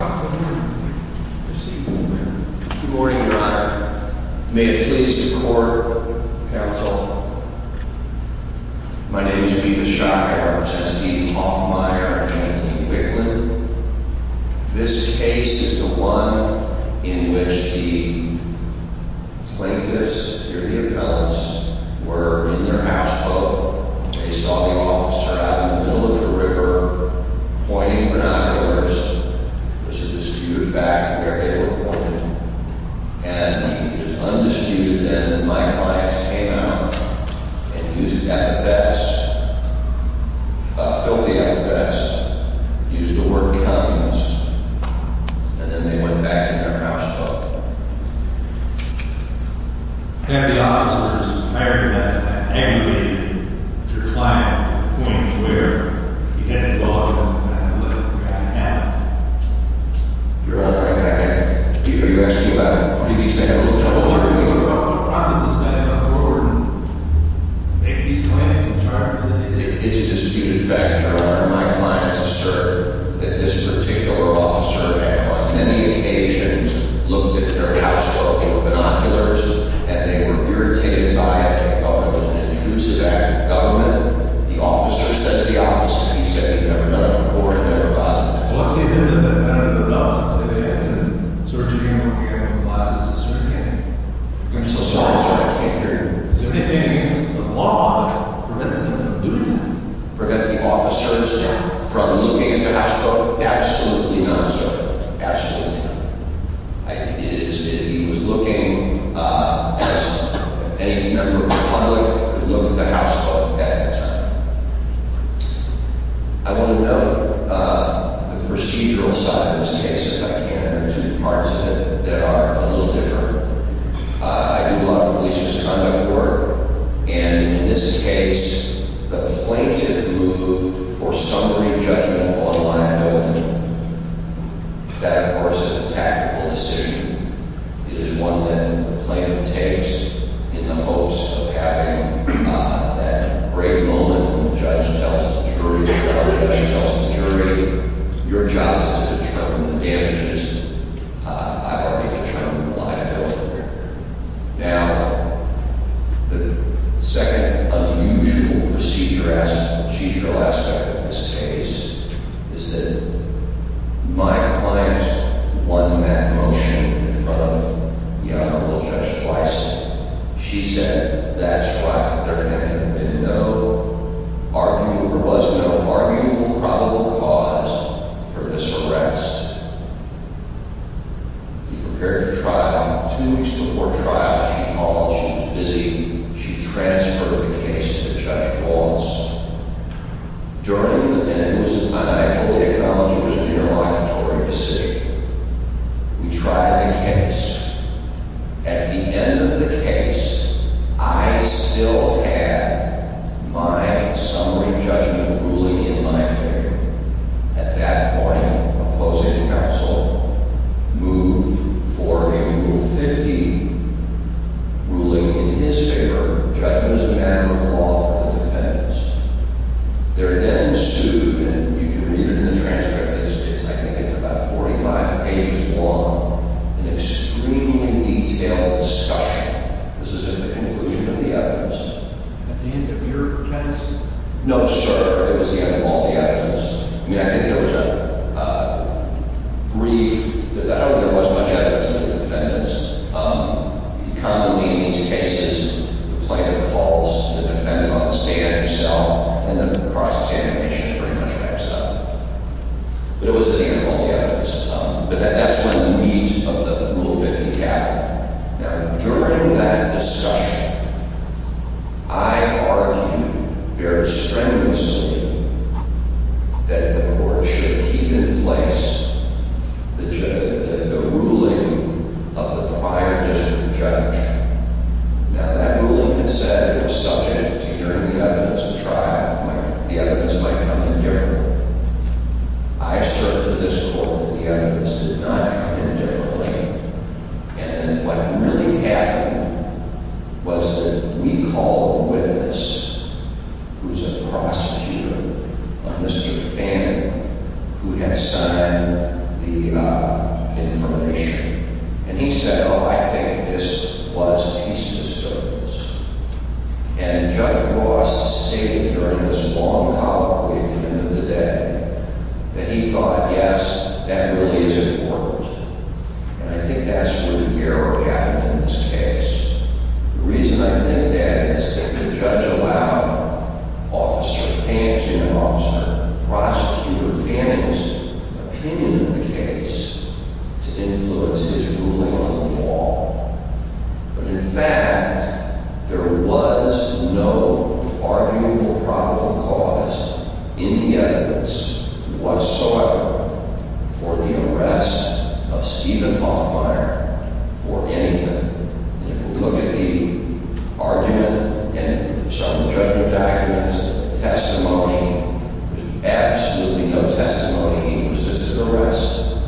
Good morning, Your Honor. May it please the court, counsel. My name is Peter Schock. I represent Steve Hoffmeyer and Anthony Wicklund. This case is the one in which the plaintiffs or the appellants were in their houseboat. They saw the officer out in the middle of the river pointing binoculars. It was a disputed fact where they were pointed. And it was undisputed then that my clients came out and used epithets, filthy epithets, used the word communist. And then they went back in their houseboat. I have the officers. I recognize that every day. Their client points where he had to go and what he had to have. Your Honor, I can't hear you. You're asking about freebies. I have a little trouble hearing you. Your Honor, the problem is that I don't order freebies when I'm in charge of anything. It's a disputed fact, Your Honor. My clients assert that this particular officer, on many occasions, looked at their houseboat with binoculars. And they were irritated by it. They thought it was an intrusive act of government. The officer says the opposite. He said he'd never done it before. He'd never done it before. Well, I'll tell you a little bit about the developments that they had. I'm so sorry, sir. I can't hear you. Prevent the officers from looking at the houseboat? Absolutely not, sir. Absolutely not. He was looking at any member of the public who looked at the houseboat at that time. I want to note the procedural side of this case, if I can. There are two parts of it that are a little different. I do a lot of police misconduct work, and in this case, the plaintiff moved for summary judgment on line 11. That, of course, is a tactical decision. It is one that the plaintiff takes in the hopes of having that great moment when the judge tells the jury, before the judge tells the jury, your job is to determine the damages. I already determined the liability. Now, the second unusual procedural aspect of this case is that my client won that motion in front of the Honorable Judge Weiss. She said that's why there was no arguable probable cause for this arrest. She prepared for trial. Two weeks before trial, she called. She was busy. She transferred the case to Judge Walz. During the minute it was in my eye for the acknowledgement, it was an interrogatory decision. We tried the case. At the end of the case, I still had my summary judgment ruling in my favor. At that point, opposing counsel moved for a Rule 15 ruling in his favor, judgment as a matter of law for the defendants. There then ensued, and you can read it in the transcript, I think it's about 45 pages long, an extremely detailed discussion. This is at the conclusion of the evidence. At the end of your test? No, sir. It was at the end of all the evidence. I think there was a brief, however there was much evidence of the defendants. Commonly in these cases, the plaintiff calls the defendant on the stand himself, and then the cross-examination pretty much wraps up. But it was at the end of all the evidence. But that's when the meat of the Rule 15 happened. Now, during that discussion, I argued very strenuously that the court should keep in place the ruling of the prior district judge. Now, that ruling had said it was subject to hearing the evidence and the evidence might come in differently. I asserted this court that the evidence did not come in differently. And then what really happened was that we called a witness who was a prosecutor, a Mr. Fanning, who had signed the information. And he said, oh, I think this was case disturbed. And Judge Ross stated during this long colloquy at the end of the day that he thought, yes, that really is important. And I think that's where the error happened in this case. The reason I think that is that the judge allowed Officer Fanning, Officer Prosecutor Fanning's opinion of the case to influence his ruling on the law. But in fact, there was no arguable probable cause in the evidence whatsoever for the arrest of Stephen Hoffmeier for anything. And if we look at the argument and some of the judgment documents, testimony, there's absolutely no testimony he resisted arrest.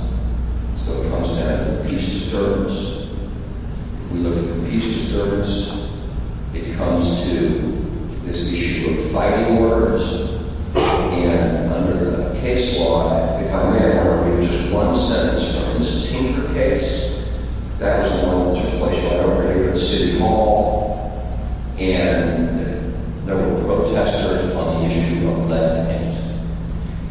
So it comes down to the peace disturbance. If we look at the peace disturbance, it comes to this issue of fighting words. And under the case law, if I may, I want to read just one sentence from this Tinker case. That was one that was replaced by another right here at City Hall. And there were protesters on the issue of lead paint.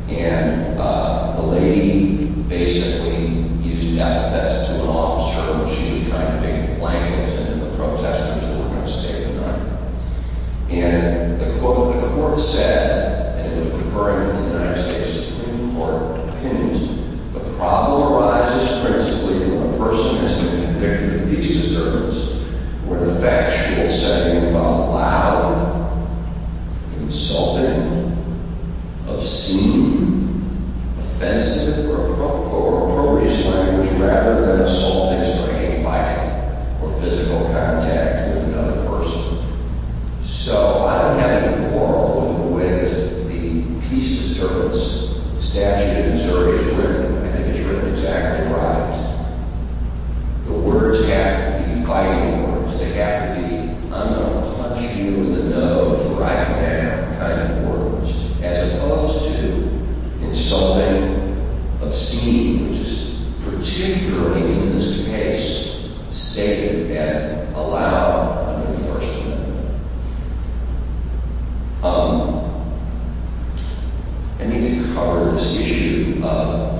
And the lady basically used death threats to an officer when she was trying to make blankets for the protesters who were going to stay the night. And the court said, and it was referring to the United States Supreme Court opinions, the problem arises principally when a person has been convicted of peace disturbance where the factual setting involved loud, insulting, obscene, offensive, or appropriate language rather than assaulting, striking, fighting, or physical contact with another person. So I don't have any quarrel with the peace disturbance statute in Missouri. I think it's written exactly right. The words have to be fighting words. They have to be I'm going to punch you in the nose right now kind of words as opposed to insulting, obscene, which is particularly in this case stated and allowed to be the first one. I need to cover this issue of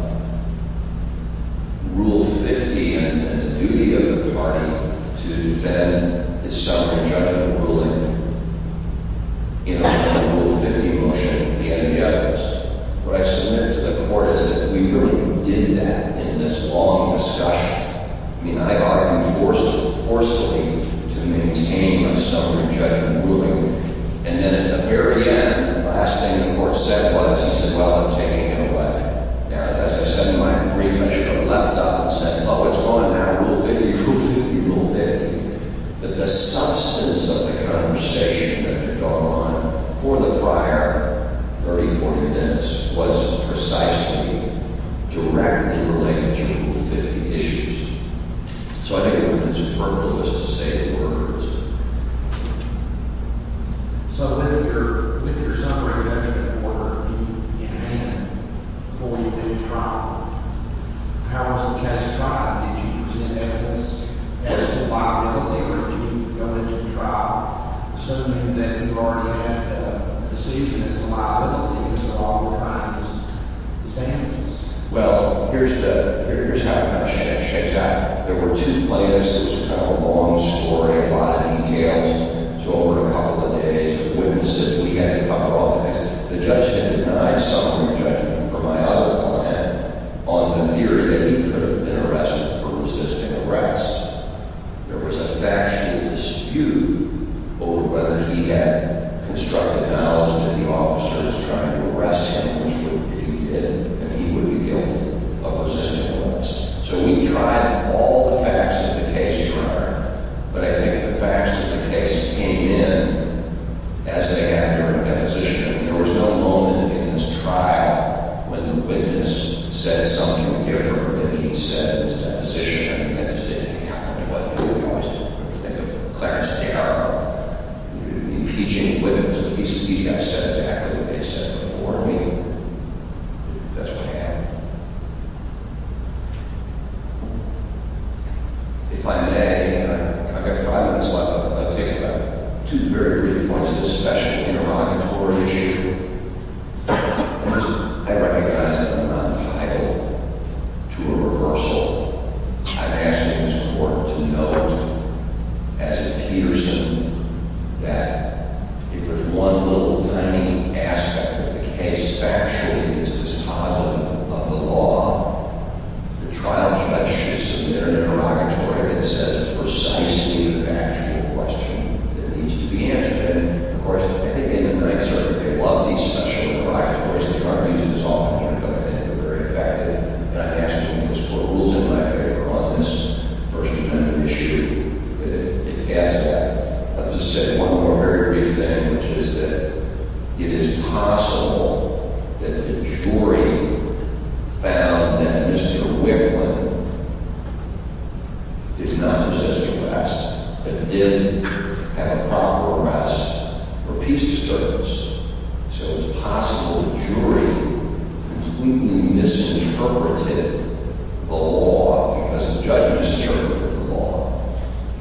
Rule 50 and the duty of the party to defend the summary judgment ruling in a Rule 50 motion. What I submit to the court is that we really did that in this long discussion. I mean, I argued forcefully to maintain a summary judgment ruling. And then at the very end, the last thing the court said was, he said, well, I'm taking it away. Now, as I said in my brief, I should have leapt up and said, oh, it's on now, Rule 50, Rule 50, Rule 50, that the substance of the conversation that had gone on for the prior 30, 40 minutes was precisely directly related to Rule 50 issues. So I think it would have been superfluous to say the word. So with your with your summary judgment order in hand before you go to trial, how was the test trial? Did you present evidence as to viability or did you go into the trial assuming that you already had a decision as to viability? Well, here's the here's how it shakes out. There were two plaintiffs. It was kind of a long story, a lot of details. So over a couple of days of witnesses, we had to cover all the cases. The judge had denied summary judgment for my other client on the theory that he could have been arrested for resisting arrest. There was a factual dispute over whether he had constructed knowledge that the officer is trying to arrest him, which he did, and he would be guilty of resisting arrest. So we tried all the facts of the case. But I think the facts of the case came in as they had during the position. There was no moment in this trial when the witness said something different than he said in his deposition. I think that just didn't happen. And what you would want to think of Clarence Darrow, impeaching a witness with a piece of media said exactly what they said before me. That's what happened. If I may, I've got five minutes left. I'll take two very brief points. This special interrogatory issue. I recognize that I'm not entitled to a reversal. I'm asking this court to note, as a Peterson, that if there's one little tiny aspect of the case, factually, it's dispositive of the law. The trial judge should submit an interrogatory that says precisely the factual question that needs to be answered. And, of course, I think in the Ninth Circuit, they love these special interrogatories. There are reasons that's often pointed out. I think they're very effective. And I'm asking this court rules in my favor on this first interrogatory issue. It adds that. I'll just say one more very brief thing, which is that it is possible that the jury found that Mr. Wicklund did not resist arrest, but did have a proper arrest for piece of service. So it's possible the jury completely misinterpreted the law because the judge misinterpreted the law.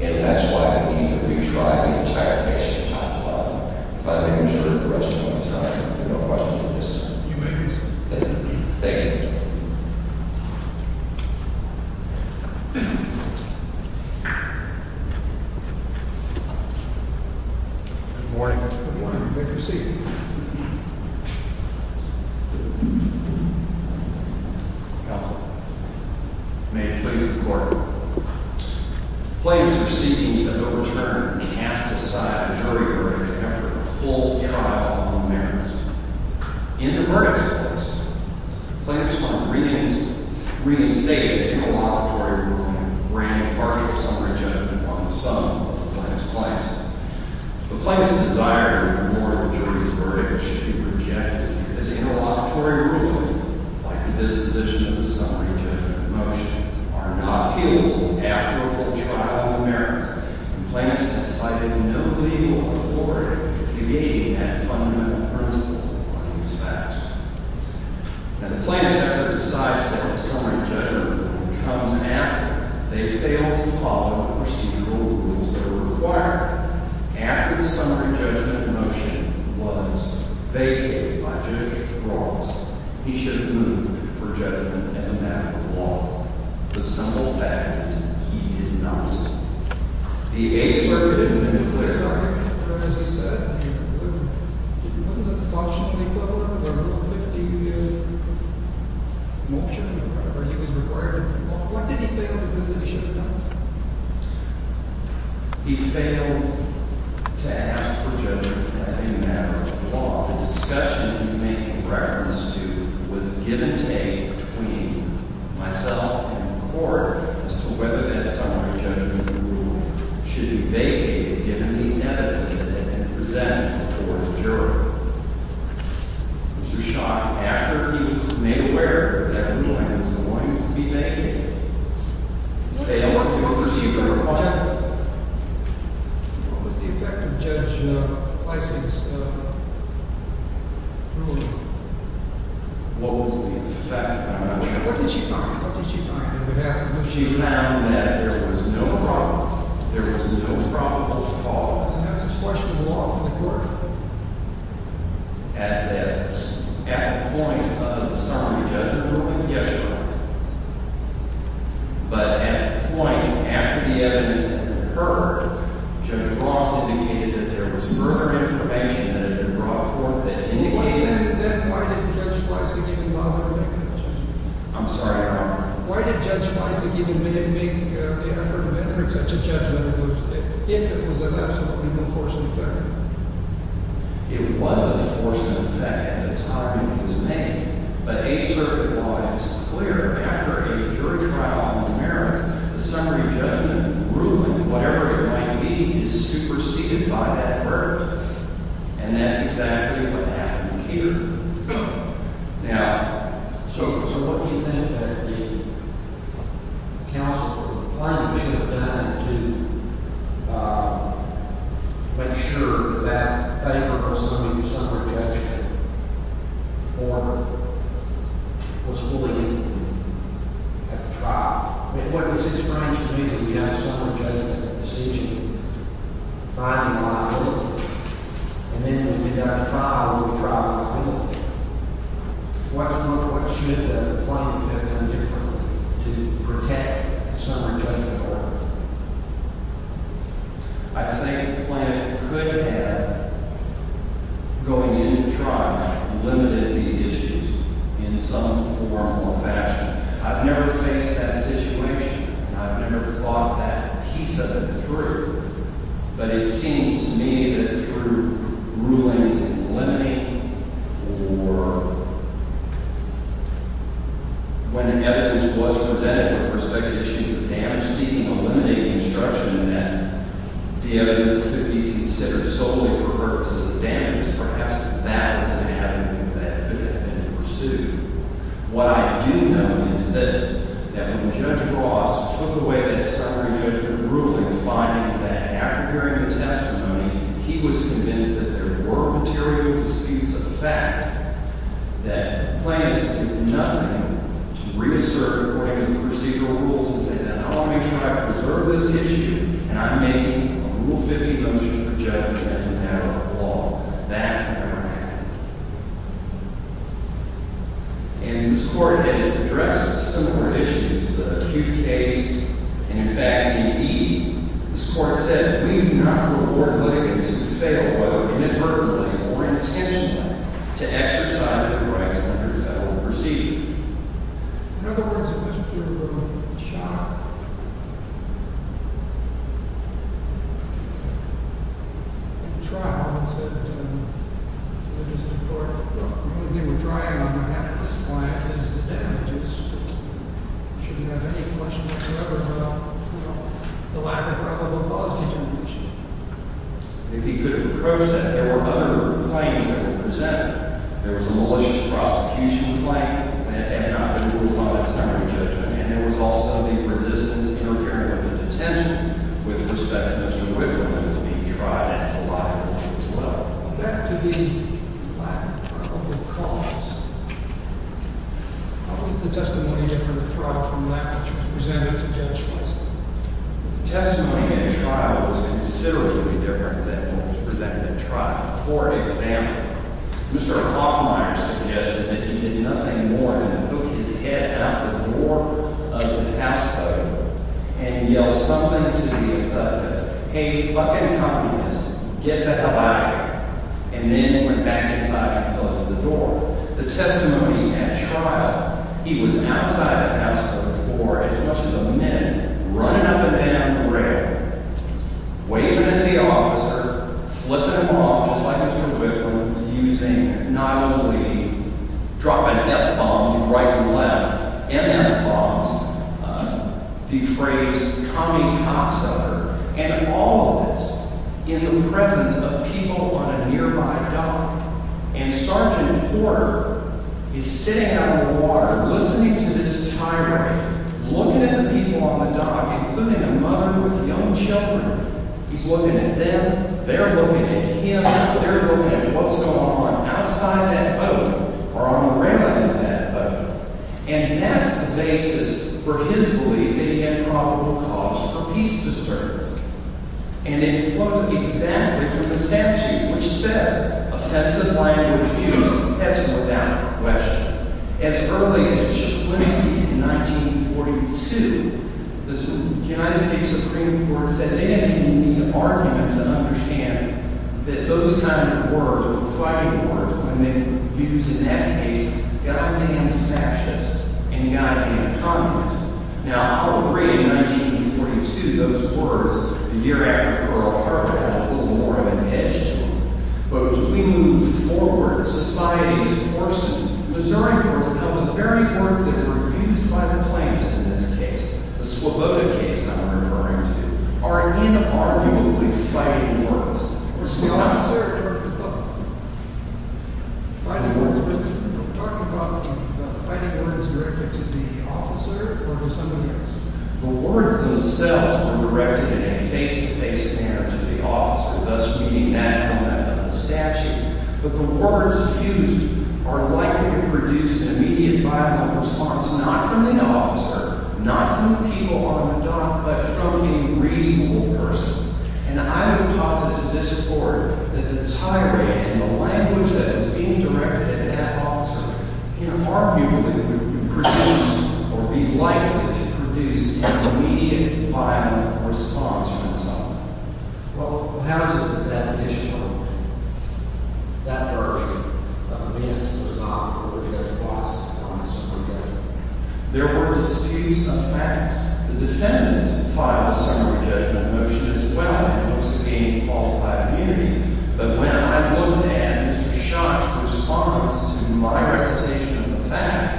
And that's why I need to retry the entire case that we talked about. If I may reserve the rest of my time, if there are no questions at this time. You may proceed. Thank you. Thank you. Good morning. Good morning. You may proceed. May it please the court. Plaintiffs are seeking to overturn and cast aside a jury verdict after a full trial on the merits. In the verdicts case, plaintiffs find reinstated in the laboratory room and granted partial summary judgment on some of the plaintiff's claims. The plaintiff's desire to reward the jury's verdict should be rejected because interlocutory rules, like the disposition of the summary judgment in motion, are not appealable after a full trial on the merits. And plaintiffs have cited no legal authority to negate that fundamental principle on these facts. And the plaintiff decides that the summary judgment comes after they fail to follow the procedural rules that are required. After the summary judgment in motion was vacated by Judge Ross, he should move for judgment as a matter of law. The simple fact is he did not. The Eighth Circuit has made a clear argument. But as you said, he wouldn't. If he wouldn't, the fault should be put on him for a 15-year motion or whatever he was required to do. What did he fail to do that he should have done? He failed to ask for judgment as a matter of law. While the discussion he's making reference to was give and take between myself and the court as to whether that summary judgment rule should be vacated, given the evidence that had been presented before the jury, Mr. Schock, after he was made aware that the ruling was going to be vacated, failed to pursue the requirement. What was the effect of Judge Fleiss's ruling? What was the effect? I'm not sure. What did she find? What did she find? She found that there was no problem. There was no problem at all. That's a question of law for the court. At the point of the summary judgment ruling? Yes, Your Honor. But at the point after the evidence had been heard, Judge Ross indicated that there was further information that had been brought forth that indicated… Then why did Judge Fleiss, again, bother to make that judgment? I'm sorry, Your Honor? Why did Judge Fleiss, again, make the effort to make such a judgment if it was an absolutely unforeseen effect? It was a forced effect at the time it was made. But a certain law is clear. After a jury trial on the merits, the summary judgment ruling, whatever it might be, is superseded by that verdict. And that's exactly what happened here. Now, so what do you think that the counsel or the plaintiff should have done to make sure that that favorable summary judgment order was fully in at the trial? I mean, what does this bring to me that we have a summary judgment decision 5 July early? And then when we got to trial, we were trialed in the middle of it. What should the plaintiff have done differently to protect the summary judgment order? I think the plaintiff could have, going into trial, limited the issues in some form or fashion. I've never faced that situation. I've never fought that piece of it through. But it seems to me that through rulings eliminating or when the evidence was presented with respect to issues of damage, seeking to eliminate the instruction that the evidence could be considered solely for purposes of damages, perhaps that is an avenue that could have been pursued. What I do know is this, that when Judge Ross took away that summary judgment ruling, finding that after hearing the testimony, he was convinced that there were material disputes of fact, that plaintiffs did nothing to reassert according to the procedural rules and say that I want to make sure I preserve this issue and I'm making a Rule 50 motion for judgment as a matter of law. That never happened. And this Court has addressed similar issues, the acute case, and in fact, in E, this Court said that we do not reward litigants who fail, whether inadvertently or intentionally, to exercise their rights under federal procedure. In other words, if this were a trial, if it were a trial, the only thing we're trying on our hands at this point is the damages. Should we have any question whatsoever about the lack of probable causes of the issue? If he could have approached that, there were other claims that were presented. There was a malicious prosecution claim that had not been ruled on that summary judgment. And there was also the resistance interfering with the detention with respect to Mr. Wiggum and his being tried as a liability as well. Back to the lack of probable cause, how was the testimony different in the trial from that which was presented to Judge Wessler? The testimony in the trial was considerably different than what was presented in the trial. For example, Mr. Hoffmeier suggested that he did nothing more than put his head out the door of his housecoat and yell something to the defendant. Hey, fucking communist, get the hell out of here. And then went back inside and closed the door. The testimony at trial, he was outside of the housecoat floor as much as a minute, running up and down the rail, waving at the officer, flipping him off, just like Mr. Wiggum, using not only dropping F-bombs right and left, MF-bombs, the phrase kamikaze, and all of this in the presence of people on a nearby dock. And Sergeant Porter is sitting on the water, listening to this tirade, looking at the people on the dock, including a mother with young children. He's looking at them, they're looking at him, they're looking at what's going on outside that boat or on the railing of that boat. And that's the basis for his belief that he had probable cause for peace disturbance. And it flowed exactly from the statute which said, offensive language used, that's without question. As early as Chip Lindsay in 1942, the United States Supreme Court said they didn't need an argument to understand that those kind of words, or fighting words, when they were used in that case, goddamn fascist and goddamn communist. Now, I'll agree in 1942, those words, the year after Pearl Harbor, had a little more of an edge to them. But as we move forward, society is forcing, Missouri court, now the very words that were used by the plaintiffs in this case, the Slavota case I'm referring to, are inarguably fighting words. The words themselves were directed in a face-to-face manner to the officer, thus reading that in a statute. But the words used are likely to produce immediate violent response, not from the officer, not from the people on the dock, but from a reasonable person. And I would posit to this court that the tirade and the language that is being directed at that officer, inarguably would produce, or be likely to produce, an immediate violent response from someone. Well, how is it that that issue, that version, of Vance was not referred as boss on the summary judgment? There were disputes of fact. The defendants filed a summary judgment motion as well, in hopes of gaining qualified immunity. But when I looked at Mr. Schott's response to my recitation of the fact,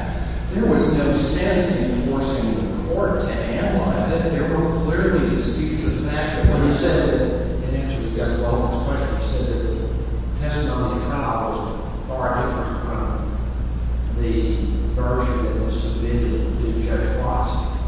there was no sense in forcing the court to analyze it. There were clearly disputes of fact. When you said that, in answer to Judge Weldon's question, you said that the testimony filed was far different from the version that was submitted to Judge Bossett.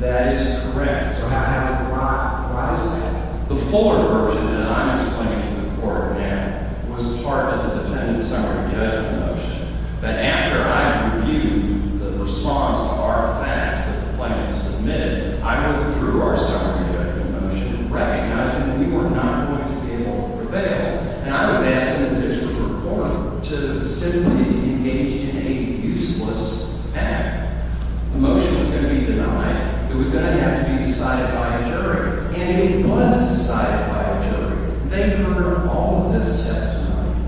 That is correct. So how, why, why is that? The fuller version that I'm explaining to the court now was part of the defendant's summary judgment motion. But after I reviewed the response to our facts that the plaintiff submitted, I went through our summary judgment motion recognizing that we were not going to be able to prevail. And I was asking the district court to simply engage in a useless act. The motion was going to be denied. It was going to have to be decided by a jury. And it was decided by a jury. They heard all of this testimony.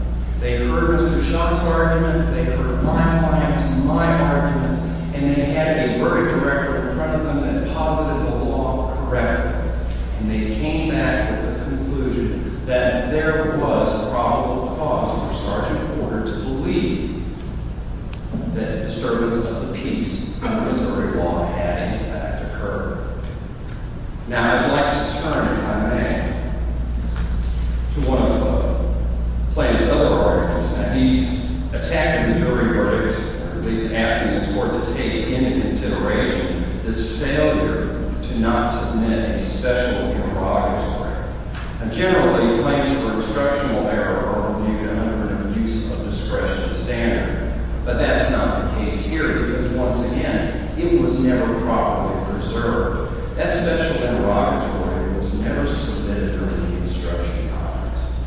They heard Mr. Schott's argument. They heard my client's and my argument. And they had a verdict director in front of them that posited the law correctly. And they came back with the conclusion that there was a probable cause for Sergeant Porter to believe that a disturbance of the peace under Missouri law had, in fact, occurred. Now, I'd like to turn, if I may, to one of the plaintiff's other arguments. Now, he's attacking the jury verdict, at least asking the court to take into consideration this failure to not submit a special prerogatory. Now, generally, claims for instructional error are reviewed under the use of discretion standard. But that's not the case here because, once again, it was never properly preserved. That special prerogatory was never submitted during the instructional conference.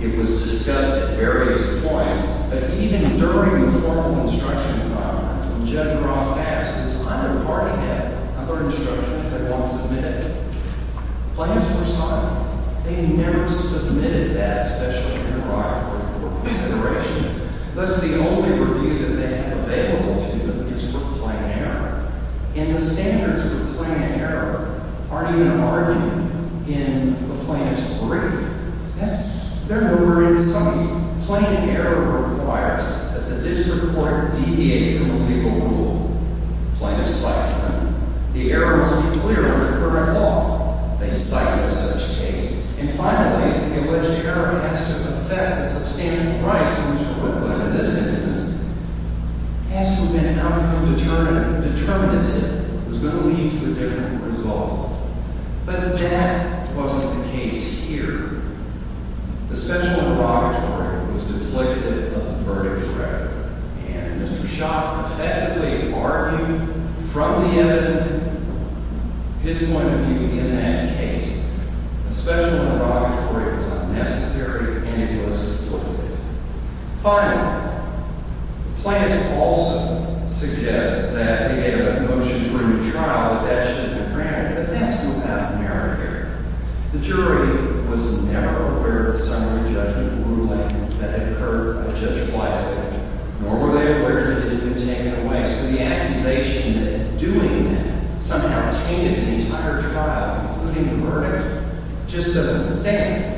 It was discussed at various points. But even during the formal instructional conference, when Judge Ross asked his under-parting app other instructions they want submitted, plaintiffs were silent. They never submitted that special prerogatory for consideration. Thus, the only review that they have available to them is for plain error. And the standards for plain error aren't even argued in the plaintiff's brief. They're never in something. Plain error requires that the district court deviate from the legal rule. Plaintiffs cite them. The error must be clear under current law. They cite it in such a case. And finally, the alleged error has to affect substantial rights in which the court, in this instance, has to amend an article determinative that's going to lead to a different result. But that wasn't the case here. The special prerogatory was duplicative of the verdict record. And Mr. Schott effectively argued from the evidence his point of view in that case. The special prerogatory was unnecessary and it was duplicative. Finally, plaintiffs also suggest that they had a motion for a new trial, but that shouldn't have been granted. But that's not out of merit here. The jury was never aware of the summary judgment ruling that had occurred by Judge Fleisig, nor were they aware that it had been taken away. So the accusation that doing that somehow tainted the entire trial, including the verdict, just doesn't stand.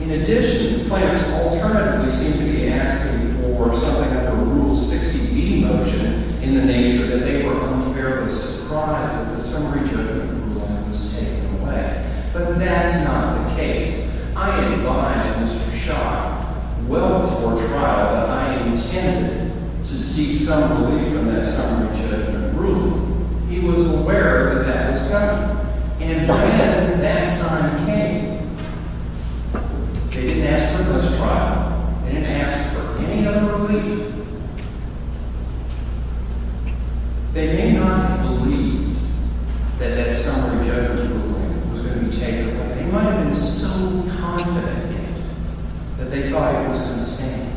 In addition, plaintiffs alternatively seem to be asking for something like a Rule 60B motion in the nature that they were unfairly surprised that the summary judgment ruling was taken away. But that's not the case. I advised Mr. Schott well before trial that I intended to seek some relief from that summary judgment ruling. He was aware that that was done. And when that time came, they didn't ask for this trial. They didn't ask for any other relief. They may not have believed that that summary judgment ruling was going to be taken away. They might have been so confident in it that they thought it was going to stand.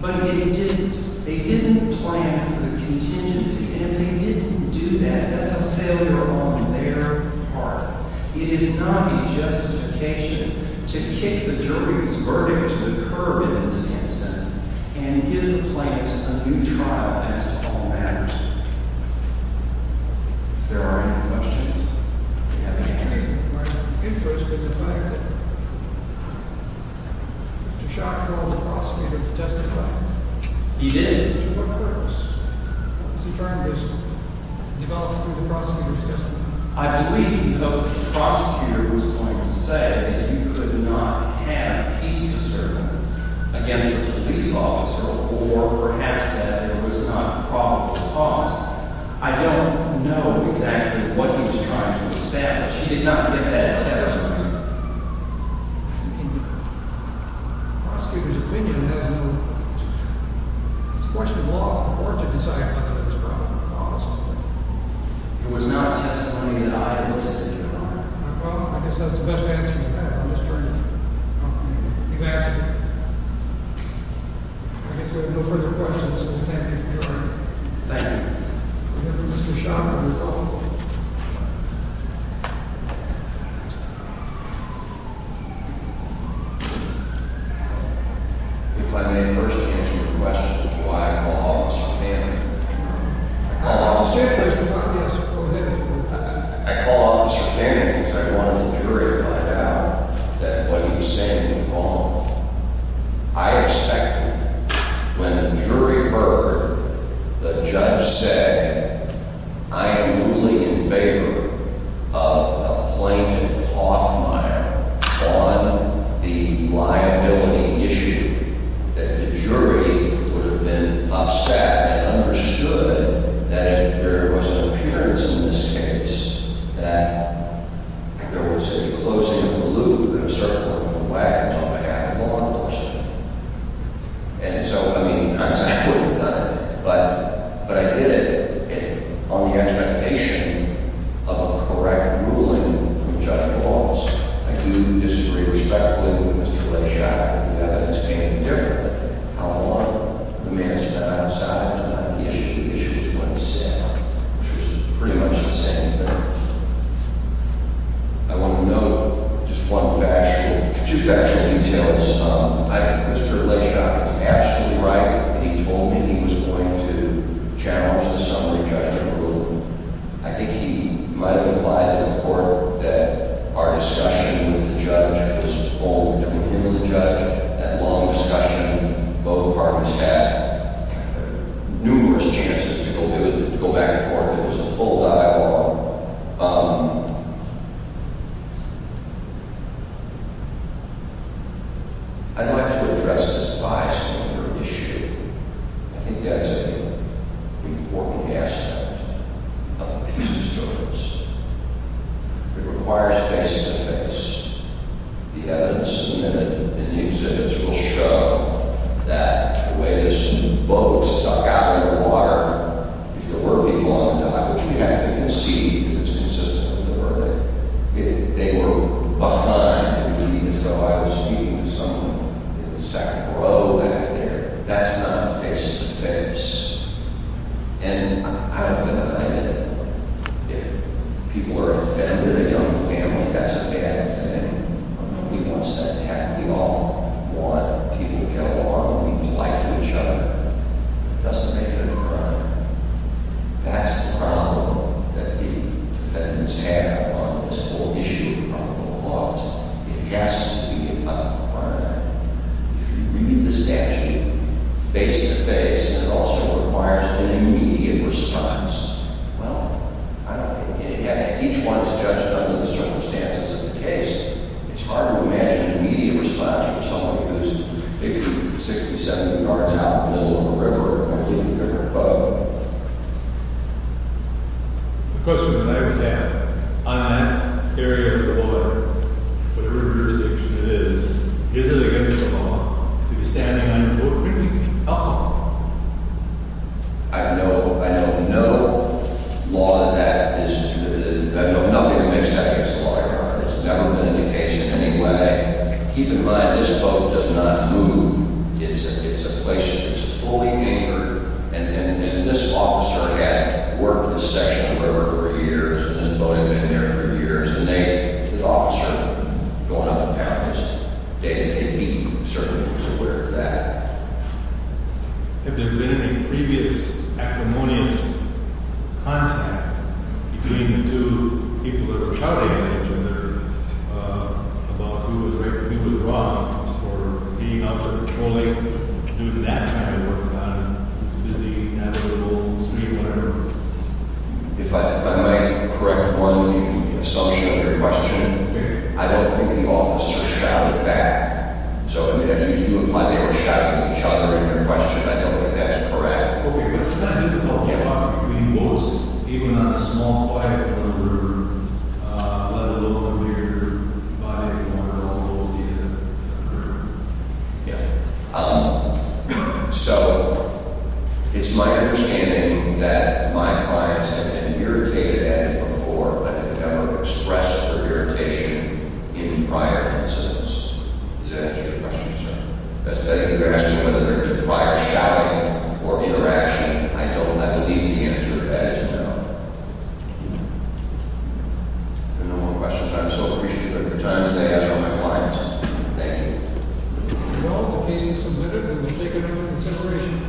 But they didn't plan for the contingency. And if they didn't do that, that's a failure on their part. It is not a justification to kick the jury's verdict to the curb in this instance and give the plaintiffs a new trial as to all matters. If there are any questions, do you have any answers? Mr. Schott called the prosecutor to testify. He did? He did. I believe the prosecutor was going to say that you could not have peace disturbance against a police officer or perhaps that there was not probable cause. I don't know exactly what he was trying to establish. He did not give that testimony. It was not a testimony that I elicited, Your Honor. Thank you. If I may first answer your question as to why I called Officer Fannigan. I called Officer Fannigan because I wanted the jury to find out that what he was saying was wrong. I expected, when the jury heard the judge say, I am ruling in favor of a plaintiff, Hothmeyer, on the liability issue that the jury would have been upset and understood that there was an appearance in this case that there was a closing of the loop and a circling of the wagons on behalf of law enforcement. And so, I mean, not exactly what we've done, but I did it on the expectation of a correct ruling from Judge DeFalz. I do disagree respectfully with Mr. Leigh Schott on the fact that the evidence came in differently. How long the man spent outside was not the issue. The issue is what he said, which was pretty much the same thing. I want to note just one factual, two factual details. Mr. Leigh Schott was absolutely right when he told me he was going to challenge the summary judgment ruling. I think he might have implied to the court that our discussion with the judge was only between him and the judge. That long discussion, both parties had numerous chances to go back and forth. It was a full dialogue. I'd like to address this bias-counter issue. I think that's an important aspect of the peace disturbance. It requires face-to-face The evidence submitted in the exhibits will show that the way this boat stuck out in the water, if there were people on the dock, which we have to concede, because it's consistent with the verdict, if they were behind, even though I was meeting with someone in the second row back there, that's not face-to-face. I've been reminded, if people are offended, if they're in a young family, that's a bad thing. Nobody wants that to happen at all. We want people to get along and be polite to each other. It doesn't make it a crime. That's the problem that the defendants have on this whole issue of the probable cause. It has to be a crime. If you read the statute face-to-face, it also requires an immediate response. Well, each one is judged under the circumstances of the case. It's hard to imagine an immediate response from someone who's 50, 60, 70 yards out of the middle of the river on a completely different boat. The question that I would have, on that area of the water, whatever jurisdiction it is, is it against the law to be standing on your boat when you need help? I know no law that is... I know nothing that makes that against the law. It's never been in the case in any way. Keep in mind, this boat does not move. It's a place that's fully anchored. And this officer had worked in this section of the river for years, and this boat had been there for years, and the officer going up and down can be certainly aware of that. Have there been any previous acrimonious contact between the two people that were shouting at each other about who was right and who was wrong, or being out there patrolling, doing that kind of work on this busy, navigable stream, whatever? If I might correct one of you, in association with your question, I don't think the officer shouted back. So if you imply they were shouting at each other in your question, I don't think that's correct. Was that difficult? Yeah. I mean, what was it? Even on a small quiet river, let alone a bigger, quiet corner of the river? Yeah. So, it's my understanding that my clients have been irritated at it before, but have never expressed their irritation in prior incidents. Does that answer your question, sir? As to whether there could have been prior shouting or interaction, I don't. I believe the answer to that is no. If there are no more questions, I'm so appreciative of the time today. That's all my clients. Thank you.